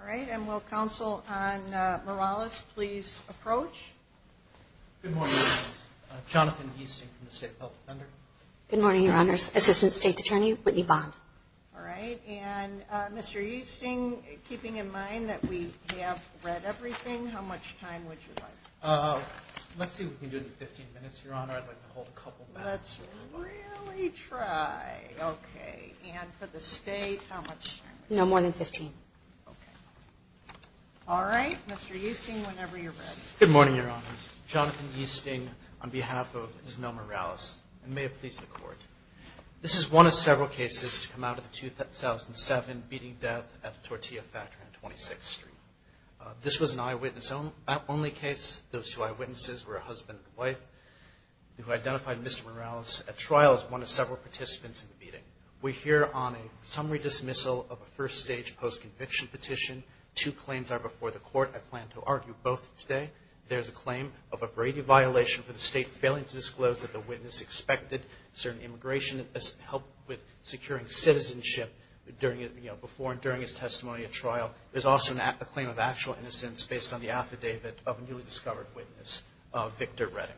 All right. And will Council on Morales please approach? Good morning. Jonathan Easting from the State Health Defender. Good morning, Your Honors. Assistant State's Attorney Whitney Bond. All right. And Mr. Easting, keeping in mind that we have read everything, how much time would you like? Let's see if we can do it in 15 minutes, Your Honor. I'd like to hold a couple back. Let's really try. Okay. And for the State, how much time? No more than 15. Okay. All right. Mr. Easting, whenever you're ready. Good morning, Your Honors. Jonathan Easting on behalf of Ms. Mel Morales. And may it please the Court, this is one of several cases to come out of the 2007 beating death at the Tortilla Factory on 26th Street. This was an eyewitness-only case. Those two eyewitnesses were a husband and wife who identified Mr. Morales at trial as one of several participants in the beating. We're here on a summary dismissal of a first-stage post-conviction petition. Two claims are before the Court. I plan to argue both today. There's a claim of a Brady violation for the State failing to disclose that the witness expected certain immigration help with securing citizenship before and during his testimony at trial. There's also a claim of actual innocence based on the affidavit of a newly discovered witness, Victor Redding.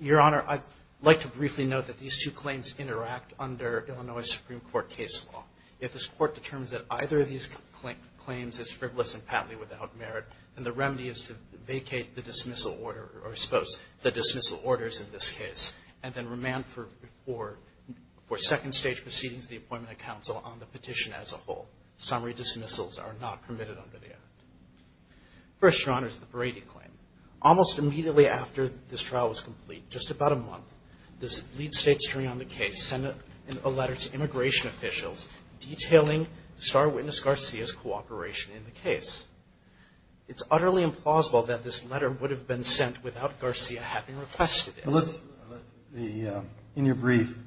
Your Honor, I'd like to briefly note that these two claims interact under Illinois Supreme Court case law. If this Court determines that either of these claims is frivolous and patently without merit, then the remedy is to vacate the dismissal order, or I suppose the dismissal orders in this case, and then remand for second-stage proceedings of the appointment of counsel on the petition as a whole. Summary dismissals are not permitted under the Act. First, Your Honor, is the Brady claim. Almost immediately after this trial was complete, just about a month, the lead state attorney on the case sent a letter to immigration officials detailing the star witness Garcia's cooperation in the case. It's utterly implausible that this letter would have been sent without Garcia having requested it. In your brief,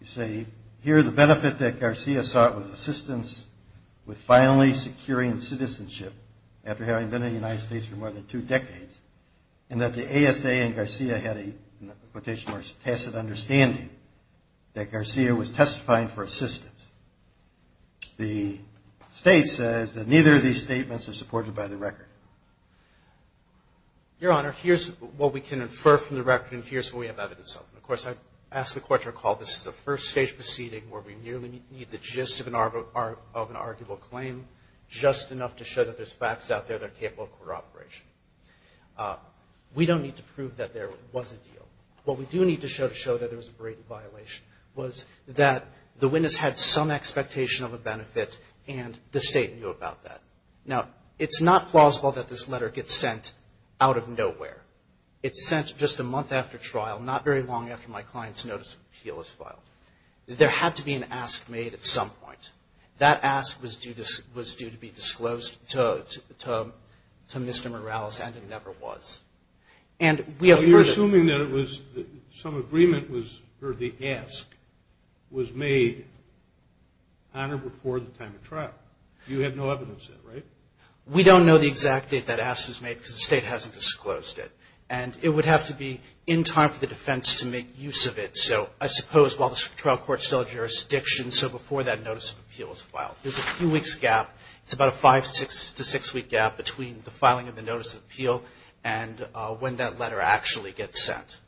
you say here the benefit that Garcia sought was assistance with finally securing citizenship after having been in the United States for more than two decades, and that the ASA and Garcia had a, in quotation marks, tacit understanding that Garcia was testifying for assistance. The State says that neither of these statements are supported by the record. Your Honor, here's what we can infer from the record, and here's what we have evidence of. And, of course, I ask the Court to recall this is a first-stage proceeding where we nearly meet the gist of an arguable claim, just enough to show that there's facts out there that are capable of corroboration. We don't need to prove that there was a deal. What we do need to show to show that there was a Brady violation was that the witness had some expectation of a benefit, and the State knew about that. Now, it's not plausible that this letter gets sent out of nowhere. It's sent just a month after trial, not very long after my client's notice of appeal is filed. There had to be an ask made at some point. That ask was due to be disclosed to Mr. Morales, and it never was. And we have heard of it. Some agreement was, or the ask, was made, Honor, before the time of trial. You have no evidence of it, right? We don't know the exact date that ask was made because the State hasn't disclosed it. And it would have to be in time for the defense to make use of it. So I suppose while the trial court's still in jurisdiction, so before that notice of appeal is filed. There's a few weeks gap. It's about a five- to six-week gap between the filing of the notice of appeal and when that letter actually gets sent.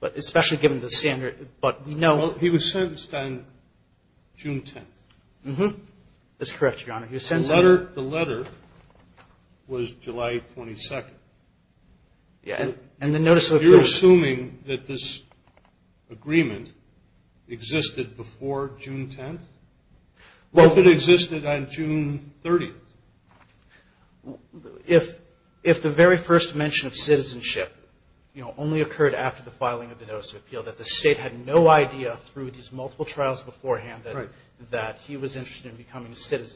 But especially given the standard, but we know. Well, he was sentenced on June 10th. Mm-hmm. That's correct, Your Honor. He was sentenced. The letter was July 22nd. Yeah, and the notice of appeal. You're assuming that this agreement existed before June 10th? What if it existed on June 30th? If the very first mention of citizenship, you know, only occurred after the filing of the notice of appeal, that the State had no idea through these multiple trials beforehand that he was interested in becoming a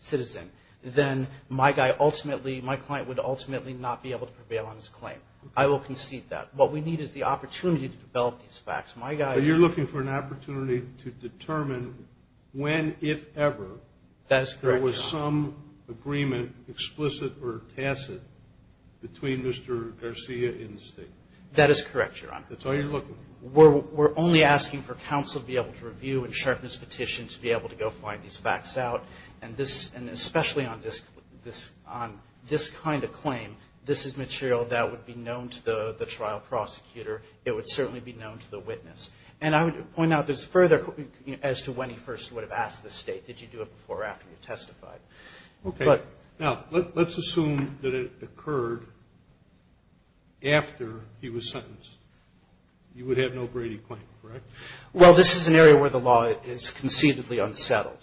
citizen, then my guy ultimately, my client would ultimately not be able to prevail on his claim. I will concede that. What we need is the opportunity to develop these facts. My guy is. So you're looking for an opportunity to determine when, if ever. That is correct, Your Honor. Is there some agreement, explicit or tacit, between Mr. Garcia and the State? That is correct, Your Honor. That's all you're looking for? We're only asking for counsel to be able to review and sharpen his petition to be able to go find these facts out. And especially on this kind of claim, this is material that would be known to the trial prosecutor. It would certainly be known to the witness. And I would point out this further as to when he first would have asked the State, did you do it before or after you testified. Okay. Now, let's assume that it occurred after he was sentenced. You would have no Brady claim, correct? Well, this is an area where the law is conceitedly unsettled.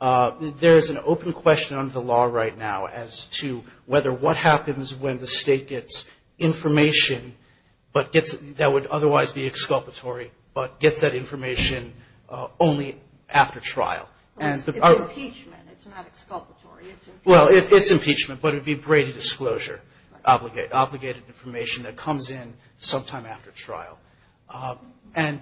There is an open question under the law right now as to whether what happens when the State gets information that would otherwise be exculpatory, but gets that information only after trial. It's impeachment. It's not exculpatory. It's impeachment. Well, it's impeachment, but it would be Brady disclosure, obligated information that comes in sometime after trial. And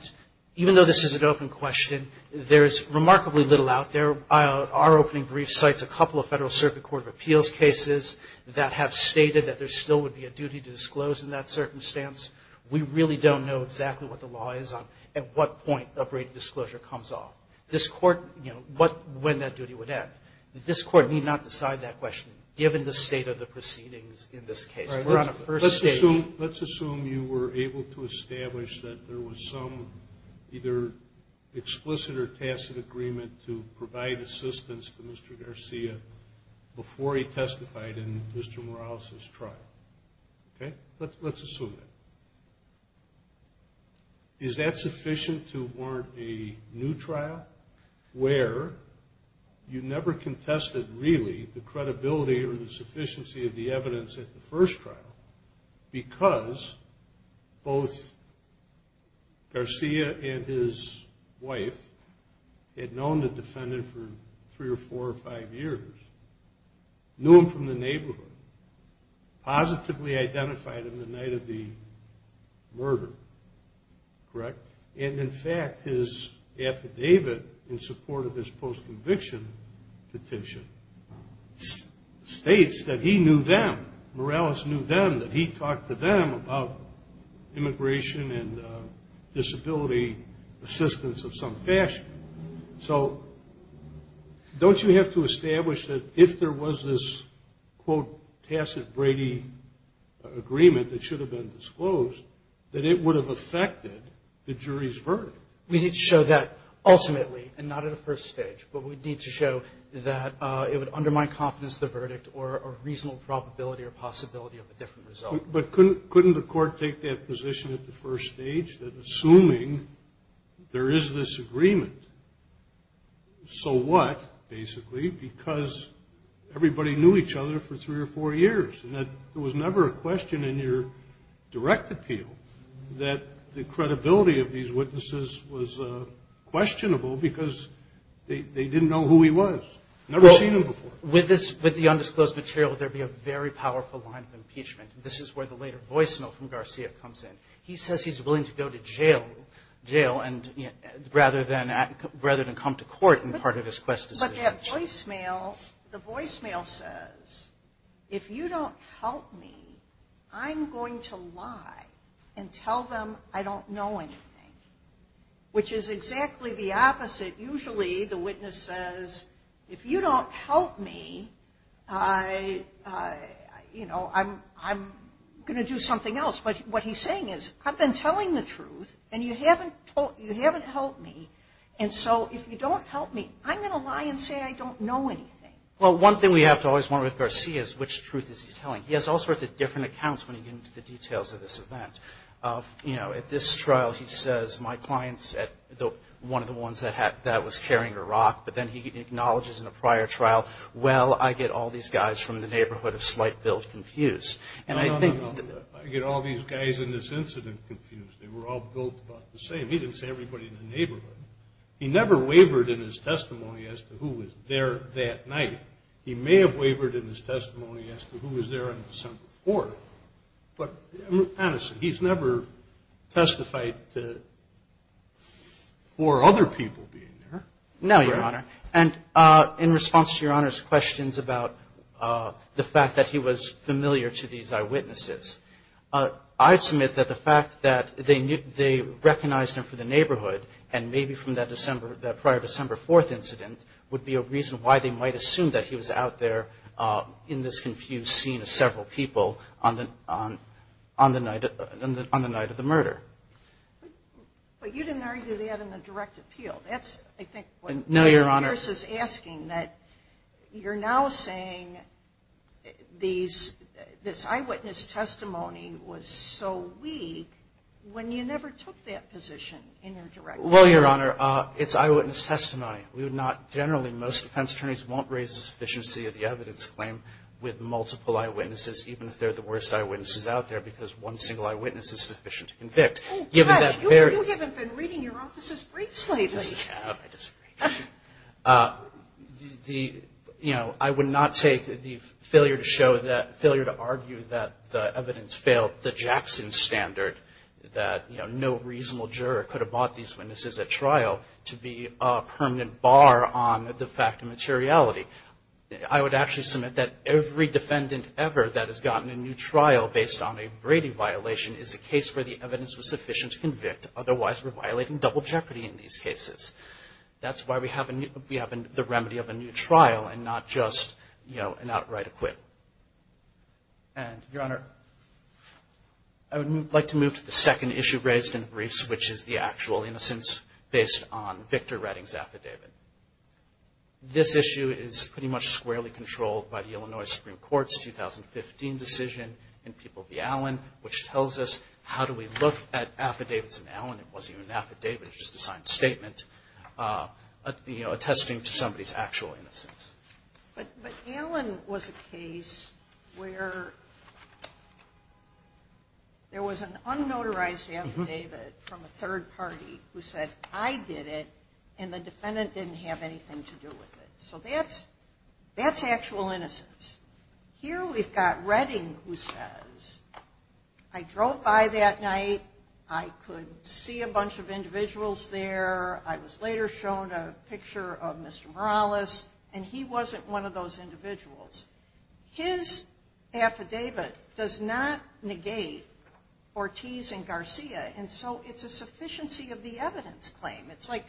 even though this is an open question, there is remarkably little out there. Our opening brief cites a couple of Federal Circuit Court of Appeals cases that have stated that there still would be a duty to disclose in that circumstance. We really don't know exactly what the law is on at what point a Brady disclosure comes off. This Court, you know, when that duty would end. This Court need not decide that question given the state of the proceedings in this case. We're on a first stage. Let's assume you were able to establish that there was some either explicit or tacit agreement to provide assistance to Mr. Garcia before he testified in Mr. Morales' trial. Okay? Let's assume that. Is that sufficient to warrant a new trial where you never contested really the credibility or the sufficiency of the evidence at the first trial because both Garcia and his wife had known the defendant for three or four or five years, knew him from the neighborhood, positively identified him the night of the murder, correct? And, in fact, his affidavit in support of his post-conviction petition states that he knew them, Morales knew them, that he talked to them about immigration and disability assistance of some fashion. So don't you have to establish that if there was this, quote, tacit Brady agreement that should have been disclosed, that it would have affected the jury's verdict? We need to show that ultimately and not at a first stage, but we need to show that it would undermine confidence of the verdict or a reasonable probability or possibility of a different result. But couldn't the Court take that position at the first stage, that assuming there is this agreement, so what, basically, because everybody knew each other for three or four years and that there was never a question in your direct appeal that the credibility of these witnesses was questionable because they didn't know who he was, never seen him before? With the undisclosed material, there would be a very powerful line of impeachment. This is where the later voicemail from Garcia comes in. He says he's willing to go to jail rather than come to court in part of his quest decision. But that voicemail, the voicemail says, if you don't help me, I'm going to lie and tell them I don't know anything, which is exactly the opposite. Usually the witness says, if you don't help me, I'm going to do something else. But what he's saying is, I've been telling the truth, and you haven't helped me, and so if you don't help me, I'm going to lie and say I don't know anything. Well, one thing we have to always wonder with Garcia is, which truth is he telling? He has all sorts of different accounts when he gets into the details of this event. You know, at this trial, he says, my client's one of the ones that was carrying a rock, but then he acknowledges in a prior trial, well, I get all these guys from the neighborhood of slight build confused. No, no, no. I get all these guys in this incident confused. They were all built about the same. He didn't say everybody in the neighborhood. He never wavered in his testimony as to who was there that night. He may have wavered in his testimony as to who was there on December 4th, but honestly, he's never testified for other people being there. No, Your Honor. And in response to Your Honor's questions about the fact that he was familiar to these eyewitnesses, I submit that the fact that they recognized him for the neighborhood and maybe from that prior December 4th incident would be a reason why they might assume that he was out there in this confused scene of several people on the night of the murder. But you didn't argue that in the direct appeal. No, Your Honor. That's, I think, what Congress is asking, that you're now saying this eyewitness testimony was so weak when you never took that position in your direct appeal. Well, Your Honor, it's eyewitness testimony. Generally, most defense attorneys won't raise the sufficiency of the evidence claim with multiple eyewitnesses, even if they're the worst eyewitnesses out there, because one single eyewitness is sufficient to convict. Oh, gosh. You haven't been reading your officer's briefs lately. I have. I disagree. The, you know, I would not take the failure to show that, failure to argue that the evidence failed the Jackson standard, that, you know, no reasonable juror could have bought these witnesses at trial to be a permanent bar on the fact of materiality. I would actually submit that every defendant ever that has gotten a new trial based on a Brady violation is a case where the evidence was sufficient to convict, otherwise we're violating double jeopardy in these cases. That's why we have the remedy of a new trial and not just, you know, an outright acquit. And, Your Honor, I would like to move to the second issue raised in the briefs, which is the actual innocence based on Victor Redding's affidavit. This issue is pretty much squarely controlled by the Illinois Supreme Court's 2015 decision in People v. Allen, which tells us how do we look at affidavits in Allen. It wasn't even an affidavit. It was just a signed statement, you know, attesting to somebody's actual innocence. But Allen was a case where there was an unnotarized affidavit from a third party who said, I did it and the defendant didn't have anything to do with it. So that's actual innocence. Here we've got Redding who says, I drove by that night. I could see a bunch of individuals there. I was later shown a picture of Mr. Morales, and he wasn't one of those individuals. His affidavit does not negate Ortiz and Garcia, and so it's a sufficiency of the evidence claim. It's like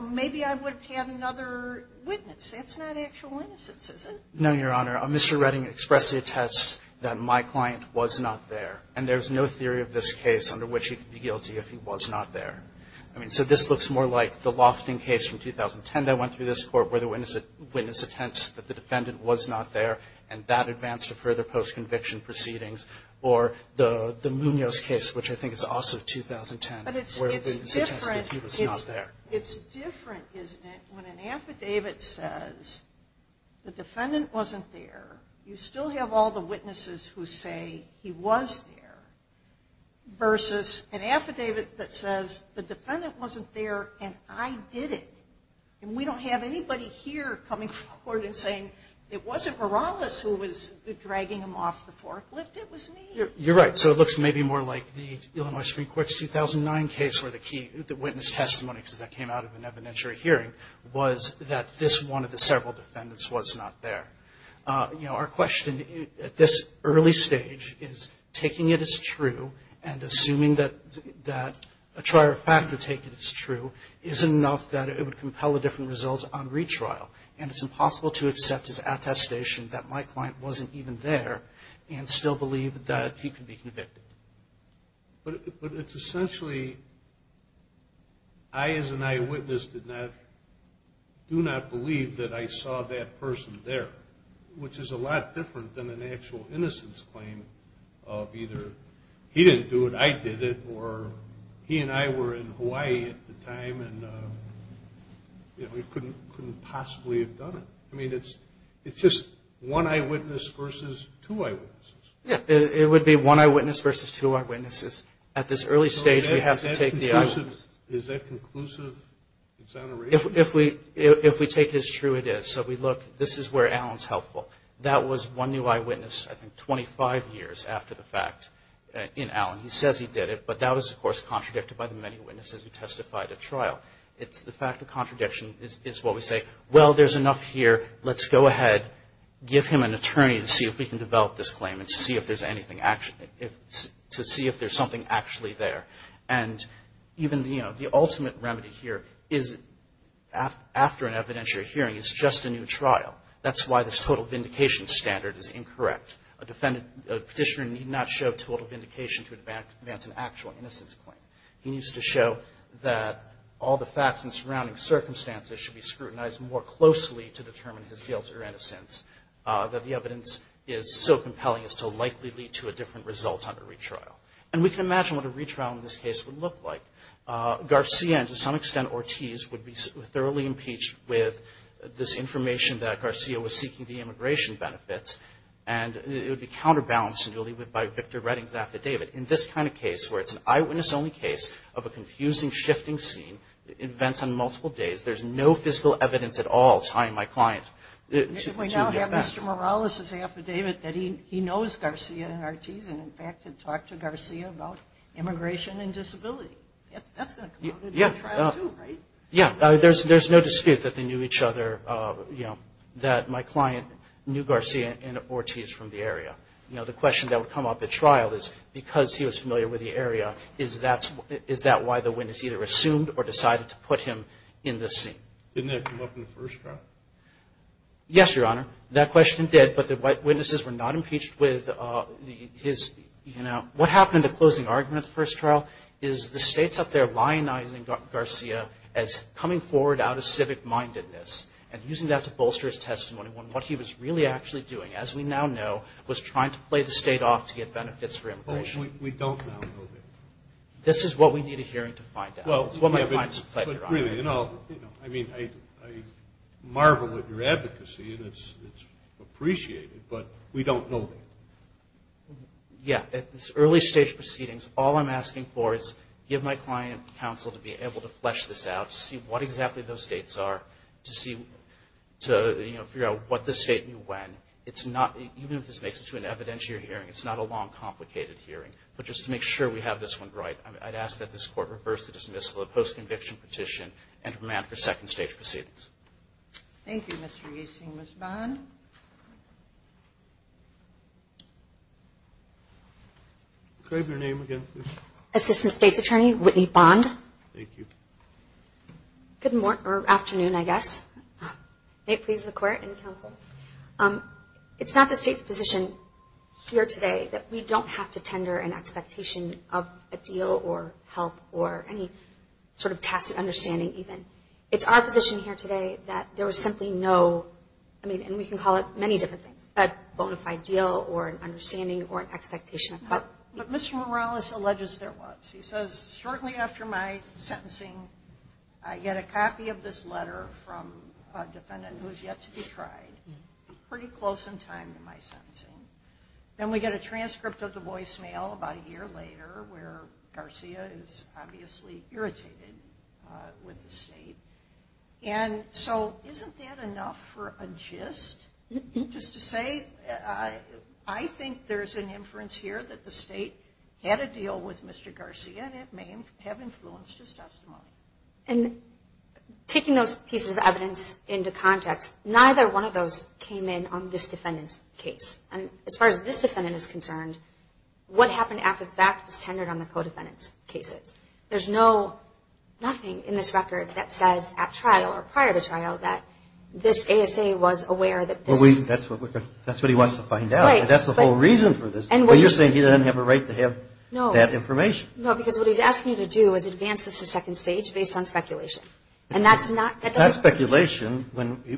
maybe I would have had another witness. That's not actual innocence, is it? No, Your Honor. Mr. Redding expressed the attest that my client was not there, and there's no theory of this case under which he could be guilty if he was not there. I mean, so this looks more like the Lofton case from 2010 that went through this court where the witness attests that the defendant was not there, and that advanced to further post-conviction proceedings, or the Munoz case, which I think is also 2010, where the witness attests that he was not there. It's different, isn't it, when an affidavit says the defendant wasn't there, you still have all the witnesses who say he was there, versus an affidavit that says the defendant wasn't there and I did it, and we don't have anybody here coming forward and saying it wasn't Morales who was dragging him off the forklift, it was me. You're right. So it looks maybe more like the Illinois Supreme Court's 2009 case where the key witness testimony, because that came out of an evidentiary hearing, was that this one of the several defendants was not there. You know, our question at this early stage is taking it as true and assuming that a trier of fact would take it as true isn't enough that it would compel a different result on retrial, and it's impossible to accept his attestation that my client wasn't even there and still believe that he could be convicted. But it's essentially I as an eyewitness do not believe that I saw that person there, which is a lot different than an actual innocence claim of either he didn't do it, I did it, or he and I were in Hawaii at the time and we couldn't possibly have done it. I mean, it's just one eyewitness versus two eyewitnesses. Yeah, it would be one eyewitness versus two eyewitnesses. At this early stage, we have to take the eyewitness. Is that conclusive exoneration? If we take it as true, it is. So we look, this is where Alan's helpful. That was one new eyewitness, I think, 25 years after the fact in Alan. He says he did it, but that was, of course, contradicted by the many witnesses who testified at trial. It's the fact of contradiction is what we say. Well, there's enough here. Let's go ahead, give him an attorney to see if we can develop this claim and see if there's anything, to see if there's something actually there. And even the ultimate remedy here is after an evidentiary hearing is just a new trial. That's why this total vindication standard is incorrect. A petitioner need not show total vindication to advance an actual innocence claim. He needs to show that all the facts and surrounding circumstances should be scrutinized more closely to determine his guilt or innocence, that the evidence is so compelling as to likely lead to a different result under retrial. And we can imagine what a retrial in this case would look like. Garcia and, to some extent, Ortiz would be thoroughly impeached with this information that Garcia was seeking the immigration benefits, and it would be counterbalanced by Victor Redding's affidavit. In this kind of case, where it's an eyewitness-only case of a confusing, shifting scene, events on multiple days, there's no physical evidence at all tying my client to the event. We now have Mr. Morales' affidavit that he knows Garcia and Ortiz and, in fact, had talked to Garcia about immigration and disability. That's going to come out in the trial too, right? Yeah, there's no dispute that they knew each other, that my client knew Garcia and Ortiz from the area. The question that would come up at trial is because he was familiar with the area, is that why the witness either assumed or decided to put him in this scene? Didn't that come up in the first trial? Yes, Your Honor. That question did, but the white witnesses were not impeached with his, you know. What happened in the closing argument of the first trial is the state's up there lionizing Garcia as coming forward out of civic-mindedness and using that to bolster his testimony on what he was really actually doing, as we now know, was trying to play the state off to get benefits for immigration. We don't now know that. This is what we need a hearing to find out. It's what my client has pledged, Your Honor. I mean, I marvel at your advocacy, and it's appreciated, but we don't know that. Yeah, it's early stage proceedings. All I'm asking for is give my client counsel to be able to flesh this out, to see what exactly those states are, to figure out what the state knew when. Even if this makes it to an evidentiary hearing, it's not a long, complicated hearing. But just to make sure we have this one right, I'd ask that this Court reverse the dismissal of the post-conviction petition and remand for second stage proceedings. Thank you, Mr. Yasing. Ms. Bond? Could I have your name again, please? Thank you. Good afternoon, I guess. May it please the Court and the counsel. It's not the state's position here today that we don't have to tender an expectation of a deal or help or any sort of tacit understanding even. It's our position here today that there was simply no, I mean, and we can call it many different things, a bona fide deal or an understanding or an expectation of help. But Mr. Morales alleges there was. He says, shortly after my sentencing, I get a copy of this letter from a defendant who is yet to be tried, pretty close in time to my sentencing. Then we get a transcript of the voicemail about a year later, where Garcia is obviously irritated with the state. And so isn't that enough for a gist? Just to say, I think there's an inference here that the state had a deal with Mr. Garcia and it may have influenced his testimony. And taking those pieces of evidence into context, neither one of those came in on this defendant's case. And as far as this defendant is concerned, what happened after the fact was tendered on the co-defendant's cases. There's nothing in this record that says at trial or prior to trial that this ASA was aware Well, that's what he wants to find out. Right. That's the whole reason for this. But you're saying he doesn't have a right to have that information. No, because what he's asking you to do is advance this to second stage based on speculation. And that's not That's not speculation.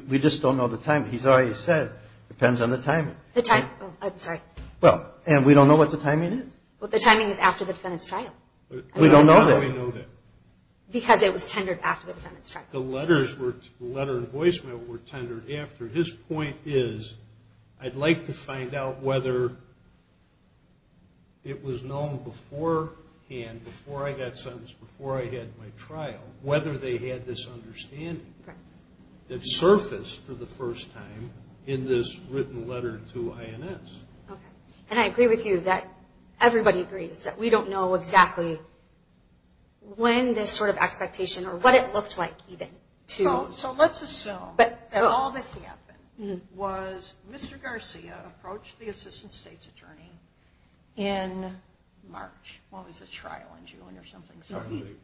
We just don't know the timing. He's already said it depends on the timing. I'm sorry. Well, and we don't know what the timing is. Well, the timing is after the defendant's trial. We don't know that. How do we know that? Because it was tendered after the defendant's trial. The letter and voicemail were tendered after. His point is, I'd like to find out whether it was known beforehand, before I got sentenced, before I had my trial, whether they had this understanding that surfaced for the first time in this written letter to INS. Okay. And I agree with you that everybody agrees that we don't know exactly when this sort of expectation or what it looked like even to So let's assume that all that happened was Mr. Garcia approached the assistant state's attorney in March. Well, it was a trial in June or something.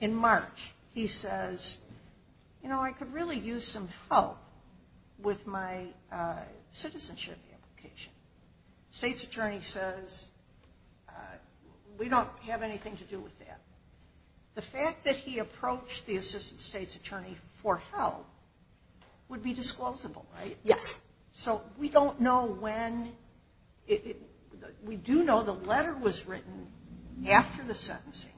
In March. He says, you know, I could really use some help with my citizenship application. State's attorney says, we don't have anything to do with that. The fact that he approached the assistant state's attorney for help would be disclosable, right? Yes. So we don't know when. We do know the letter was written after the sentencing,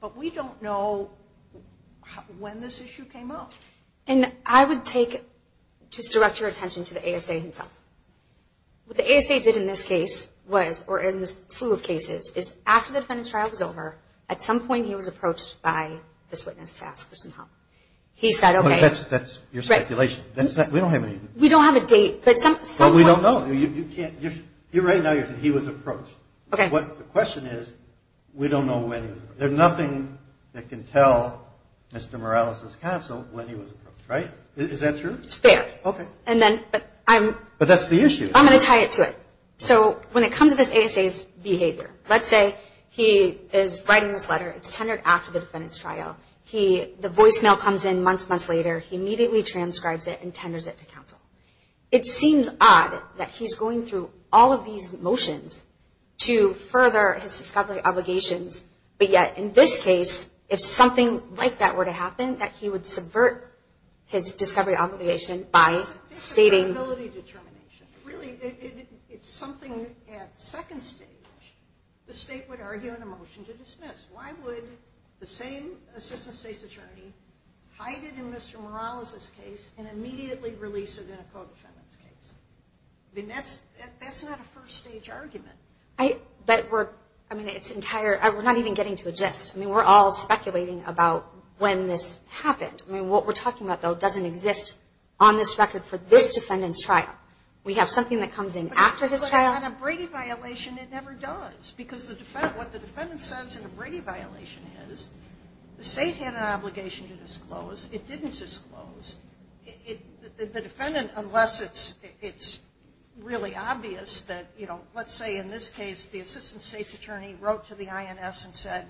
but we don't know when this issue came up. And I would take, just direct your attention to the ASA himself. What the ASA did in this case was, or in this slew of cases, is after the defendant's trial was over, at some point he was approached by this witness to ask for some help. He said, okay. That's your speculation. We don't have a date. But we don't know. Right now you're saying he was approached. Okay. The question is, we don't know when. There's nothing that can tell Mr. Morales' counsel when he was approached, right? Is that true? It's fair. Okay. But that's the issue. I'm going to tie it to it. So when it comes to this ASA's behavior, let's say he is writing this letter. It's tendered after the defendant's trial. The voicemail comes in months, months later. He immediately transcribes it and tenders it to counsel. It seems odd that he's going through all of these motions to further his discovery obligations, but yet in this case, if something like that were to happen, that he would subvert his discovery obligation by stating... I think it's credibility determination. Really, it's something at second stage the state would argue in a motion to dismiss. Why would the same assistant state's attorney hide it in Mr. Morales' case and immediately release it in a co-defendant's case? I mean, that's not a first stage argument. But we're, I mean, it's entire, we're not even getting to a gist. I mean, we're all speculating about when this happened. I mean, what we're talking about, though, doesn't exist on this record for this defendant's trial. We have something that comes in after his trial. But on a Brady violation, it never does, because what the defendant says in a Brady violation is the state had an obligation to disclose. It didn't disclose. The defendant, unless it's really obvious that, you know, let's say in this case, the assistant state's attorney wrote to the INS and said,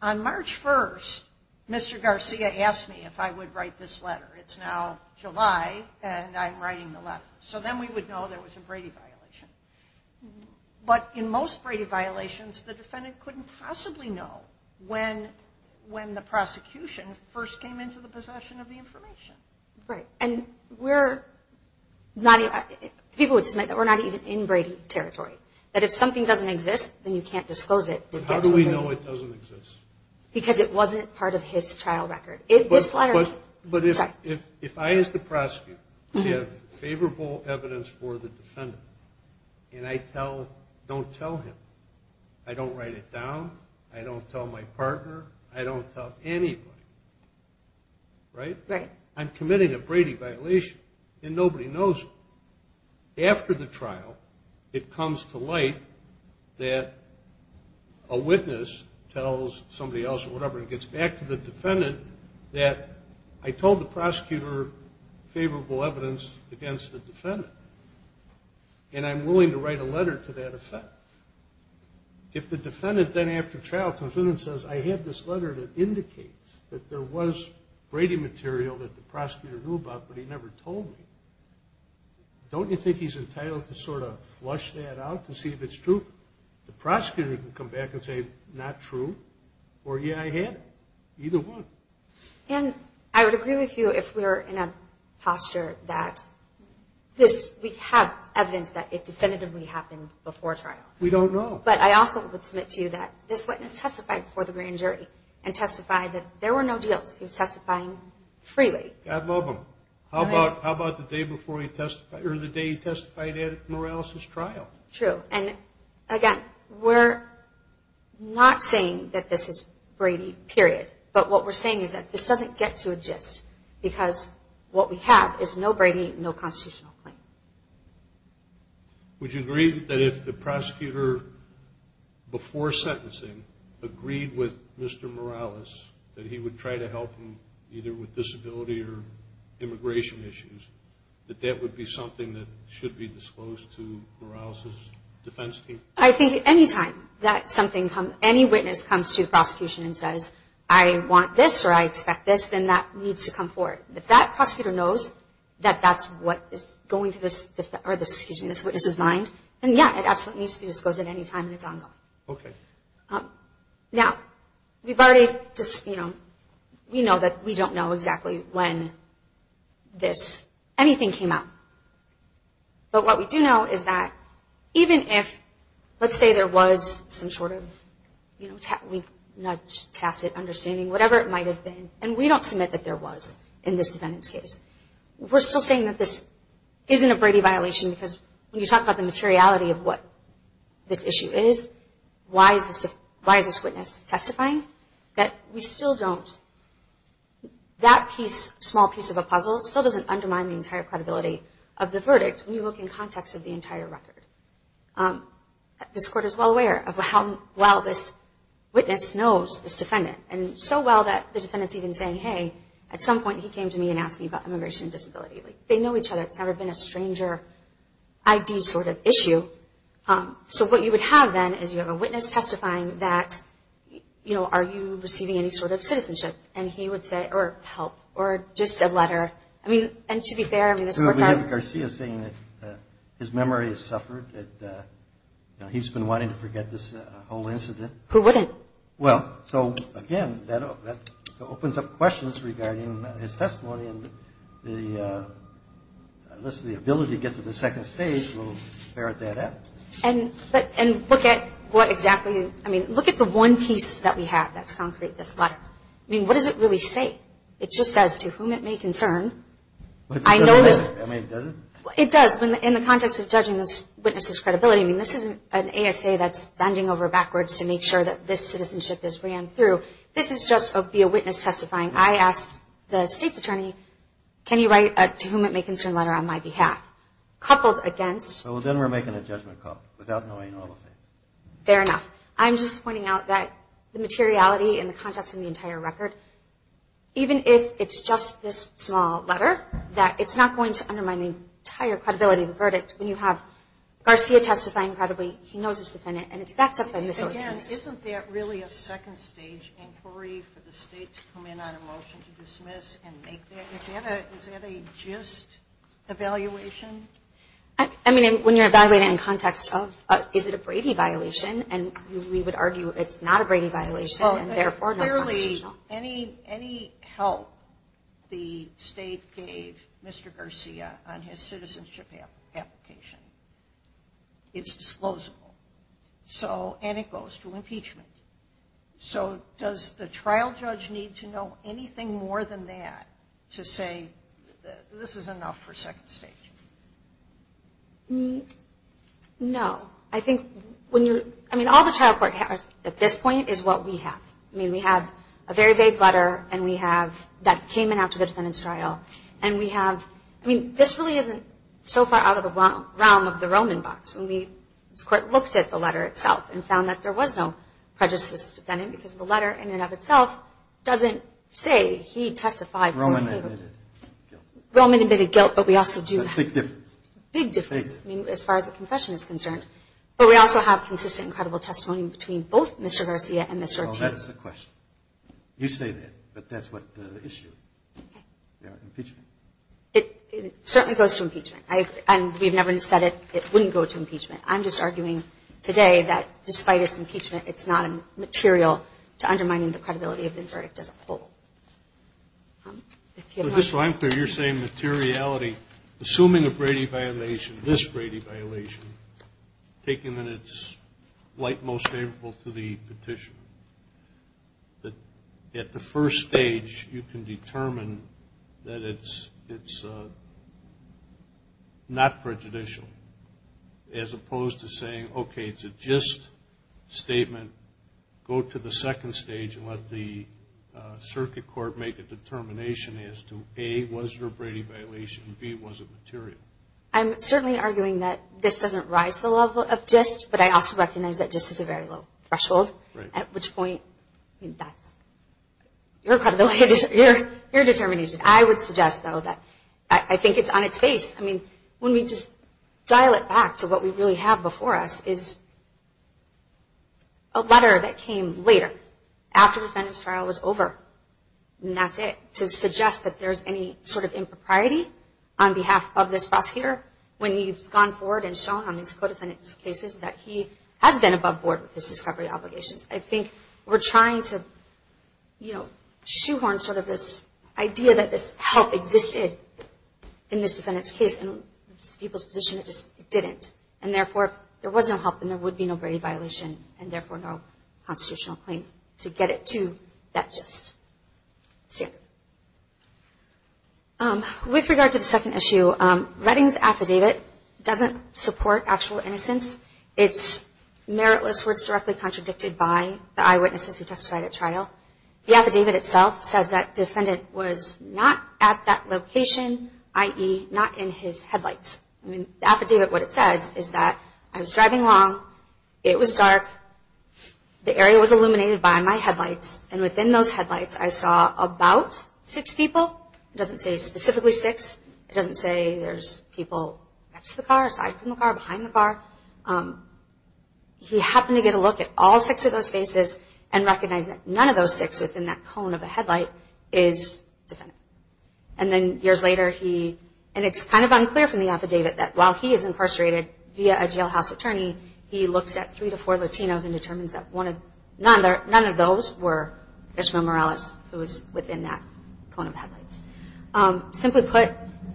on March 1st, Mr. Garcia asked me if I would write this letter. It's now July, and I'm writing the letter. So then we would know there was a Brady violation. But in most Brady violations, the defendant couldn't possibly know when the prosecution first came into the possession of the information. Right. And we're not even, people would submit that we're not even in Brady territory, that if something doesn't exist, then you can't disclose it. How do we know it doesn't exist? Because it wasn't part of his trial record. But if I, as the prosecutor, give favorable evidence for the defendant, and I don't tell him, I don't write it down, I don't tell my partner, I don't tell anybody, right? Right. I'm committing a Brady violation, and nobody knows. After the trial, it comes to light that a witness tells somebody else or whatever, and it gets back to the defendant, that I told the prosecutor favorable evidence against the defendant, and I'm willing to write a letter to that effect. If the defendant then after trial comes in and says, I have this letter that indicates that there was Brady material that the prosecutor knew about but he never told me, don't you think he's entitled to sort of flush that out to see if it's true? The prosecutor can come back and say, not true, or, yeah, I had it. Either one. And I would agree with you if we're in a posture that this, we have evidence that it definitively happened before trial. We don't know. But I also would submit to you that this witness testified before the grand jury and testified that there were no deals. He was testifying freely. God love him. How about the day before he testified, or the day he testified at Morales' trial? True. And, again, we're not saying that this is Brady, period. But what we're saying is that this doesn't get to exist because what we have is no Brady, no constitutional claim. Would you agree that if the prosecutor before sentencing agreed with Mr. Morales that he would try to help him either with disability or immigration issues, that that would be something that should be disclosed to Morales' defense team? I think any time that something comes, any witness comes to the prosecution and says, I want this or I expect this, then that needs to come forward. If that prosecutor knows that that's what is going through this witness' mind, then, yeah, it absolutely needs to be disclosed at any time and it's ongoing. Okay. Now, we know that we don't know exactly when anything came out. But what we do know is that even if, let's say there was some sort of tacit understanding, whatever it might have been, and we don't submit that there was in this defendant's case, we're still saying that this isn't a Brady violation because when you talk about the materiality of what this issue is, why is this witness testifying, that we still don't, that small piece of a puzzle still doesn't undermine the entire credibility of the verdict when you look in context of the entire record. This court is well aware of how well this witness knows this defendant, and so well that the defendant's even saying, hey, at some point he came to me and asked me about immigration and disability. They know each other. It's never been a stranger ID sort of issue. So what you would have then is you have a witness testifying that, you know, are you receiving any sort of citizenship? And he would say, or help, or just a letter. I mean, and to be fair, I mean, this court's not – So we have Garcia saying that his memory has suffered, that he's been wanting to forget this whole incident. Who wouldn't? Well, so, again, that opens up questions regarding his testimony and the ability to get to the second stage will ferret that out. And look at what exactly – I mean, look at the one piece that we have that's concrete, this letter. I mean, what does it really say? It just says, to whom it may concern, I know this – I mean, does it? It does. In the context of judging this witness's credibility, I mean, this isn't an ASA that's bending over backwards to make sure that this citizenship is ran through. This is just via witness testifying. I asked the state's attorney, can you write a to whom it may concern letter on my behalf? Coupled against – Well, then we're making a judgment call without knowing all of it. Fair enough. I'm just pointing out that the materiality and the context in the entire record, even if it's just this small letter, that it's not going to undermine the entire credibility of the verdict when you have Garcia testifying credibly, he knows his defendant, and it's backed up by miscellaneous evidence. Again, isn't that really a second stage inquiry for the state to come in on a motion to dismiss and make that? Is that a just evaluation? I mean, when you're evaluating in context of is it a Brady violation, and we would argue it's not a Brady violation and therefore not constitutional. Any help the state gave Mr. Garcia on his citizenship application is disclosable, and it goes to impeachment. So does the trial judge need to know anything more than that to say this is enough for second stage? No. I think when you're – I mean, all the trial court has at this point is what we have. I mean, we have a very vague letter, and we have that came in after the defendant's trial, and we have – I mean, this really isn't so far out of the realm of the Roman box. When we looked at the letter itself and found that there was no prejudiced defendant because the letter in and of itself doesn't say he testified. Roman admitted guilt. Roman admitted guilt, but we also do have – A big difference. Big difference, I mean, as far as the confession is concerned. But we also have consistent and credible testimony between both Mr. Garcia and Ms. Ortiz. Oh, that's the question. You say that, but that's what the issue is. Okay. Impeachment. It certainly goes to impeachment. I – and we've never said it wouldn't go to impeachment. I'm just arguing today that despite its impeachment, it's not material to undermining the credibility of the verdict as a whole. If you have a question. To be quite clear, you're saying materiality, assuming a Brady violation, this Brady violation, taking it in its light most favorable to the petition, that at the first stage you can determine that it's not prejudicial, as opposed to saying, okay, it's a gist statement, go to the second stage and let the circuit court make a determination as to, A, was there a Brady violation, B, was it material? I'm certainly arguing that this doesn't rise to the level of gist, but I also recognize that gist is a very low threshold, at which point that's your determination. I would suggest, though, that I think it's on its face. I mean, when we just dial it back to what we really have before us is a letter that came later, after the defendant's trial was over, and that's it, to suggest that there's any sort of impropriety on behalf of this boss here, when he's gone forward and shown on these co-defendant's cases that he has been above board with his discovery obligations. I think we're trying to shoehorn sort of this idea that this help existed in this defendant's case, and in people's position, it just didn't. And therefore, if there was no help, then there would be no Brady violation, and therefore no constitutional claim to get it to that gist standard. With regard to the second issue, Redding's affidavit doesn't support actual innocence. It's meritless where it's directly contradicted by the eyewitnesses who testified at trial. The affidavit itself says that defendant was not at that location, i.e., not in his headlights. I mean, the affidavit, what it says is that I was driving along, it was dark, the area was illuminated by my headlights, and within those headlights, I saw about six people. It doesn't say specifically six. It doesn't say there's people next to the car, aside from the car, behind the car. He happened to get a look at all six of those faces and recognized that none of those six within that cone of a headlight is defendant. And then years later, he, and it's kind of unclear from the affidavit that while he is incarcerated via a jailhouse attorney, he looks at three to four Latinos and determines that none of those were Christopher Morales who was within that cone of headlights. Simply put,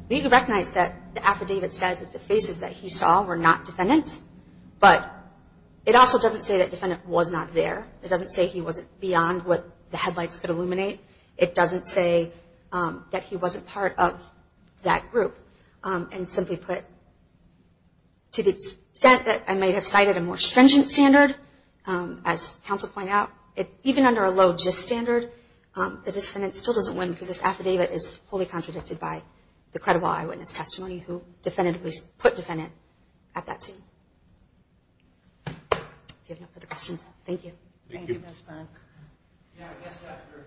we recognize that the affidavit says that the faces that he saw were not defendants, but it also doesn't say that defendant was not there. It doesn't say he wasn't beyond what the headlights could illuminate. It doesn't say that he wasn't part of that group. And simply put, to the extent that I may have cited a more stringent standard, as counsel point out, even under a low gist standard, the defendant still doesn't win because this affidavit is wholly contradicted by the credible eyewitness testimony who definitively put defendant at that scene. If you have no further questions, thank you. Thank you, Ms. Frank. Yeah, I guess after.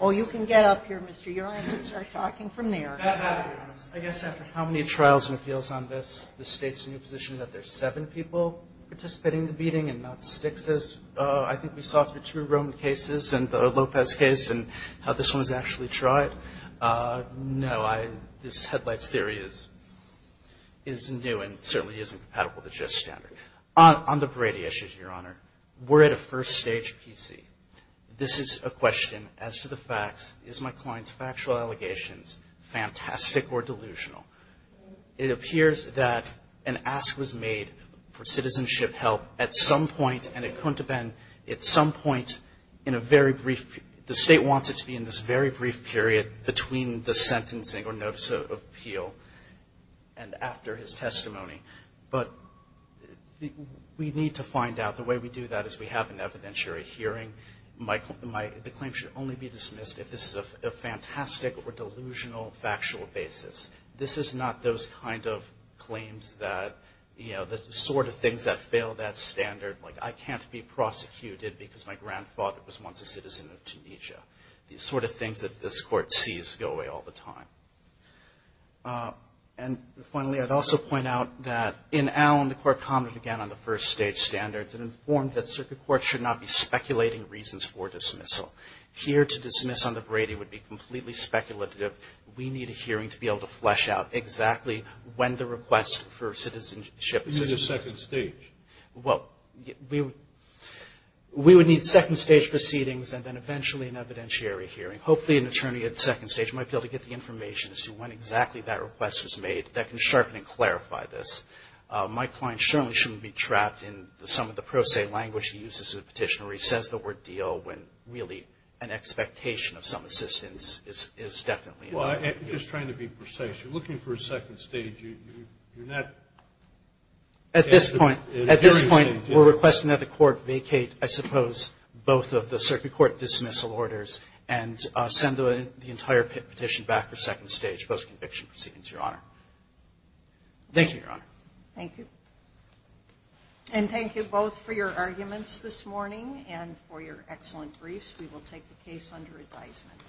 Oh, you can get up here, Mr. Uriah. You can start talking from there. I guess after how many trials and appeals on this, the state's new position that there's seven people participating in the beating and not six as I think we saw through two Roman cases and the Lopez case and how this one was actually tried. No, this headlights theory is new and certainly isn't compatible with the gist standard. On the Brady issue, Your Honor, we're at a first stage PC. This is a question as to the facts. Is my client's factual allegations fantastic or delusional? It appears that an ask was made for citizenship help at some point and it couldn't I want it to be in this very brief period between the sentencing or notice of appeal and after his testimony. But we need to find out. The way we do that is we have an evidentiary hearing. The claim should only be dismissed if this is a fantastic or delusional factual basis. This is not those kind of claims that, you know, the sort of things that fail that standard, like I can't be prosecuted because my grandfather was once a citizen of Tunisia. These sort of things that this Court sees go away all the time. And finally, I'd also point out that in Allen, the Court commented again on the first stage standards and informed that circuit courts should not be speculating reasons for dismissal. Here to dismiss on the Brady would be completely speculative. We need a hearing to be able to flesh out exactly when the request for citizenship is in the second stage. Well, we would need second stage proceedings and then eventually an evidentiary hearing. Hopefully an attorney at the second stage might be able to get the information as to when exactly that request was made that can sharpen and clarify this. My client certainly shouldn't be trapped in some of the pro se language he uses in the petition where he says the word deal when really an expectation of some assistance is definitely in there. Well, I'm just trying to be precise. You're looking for a second stage. You're not... At this point, we're requesting that the Court vacate, I suppose, both of the circuit court dismissal orders and send the entire petition back for second stage post-conviction proceedings, Your Honor. Thank you, Your Honor. Thank you. And thank you both for your arguments this morning and for your excellent briefs. We will take the case under advisement.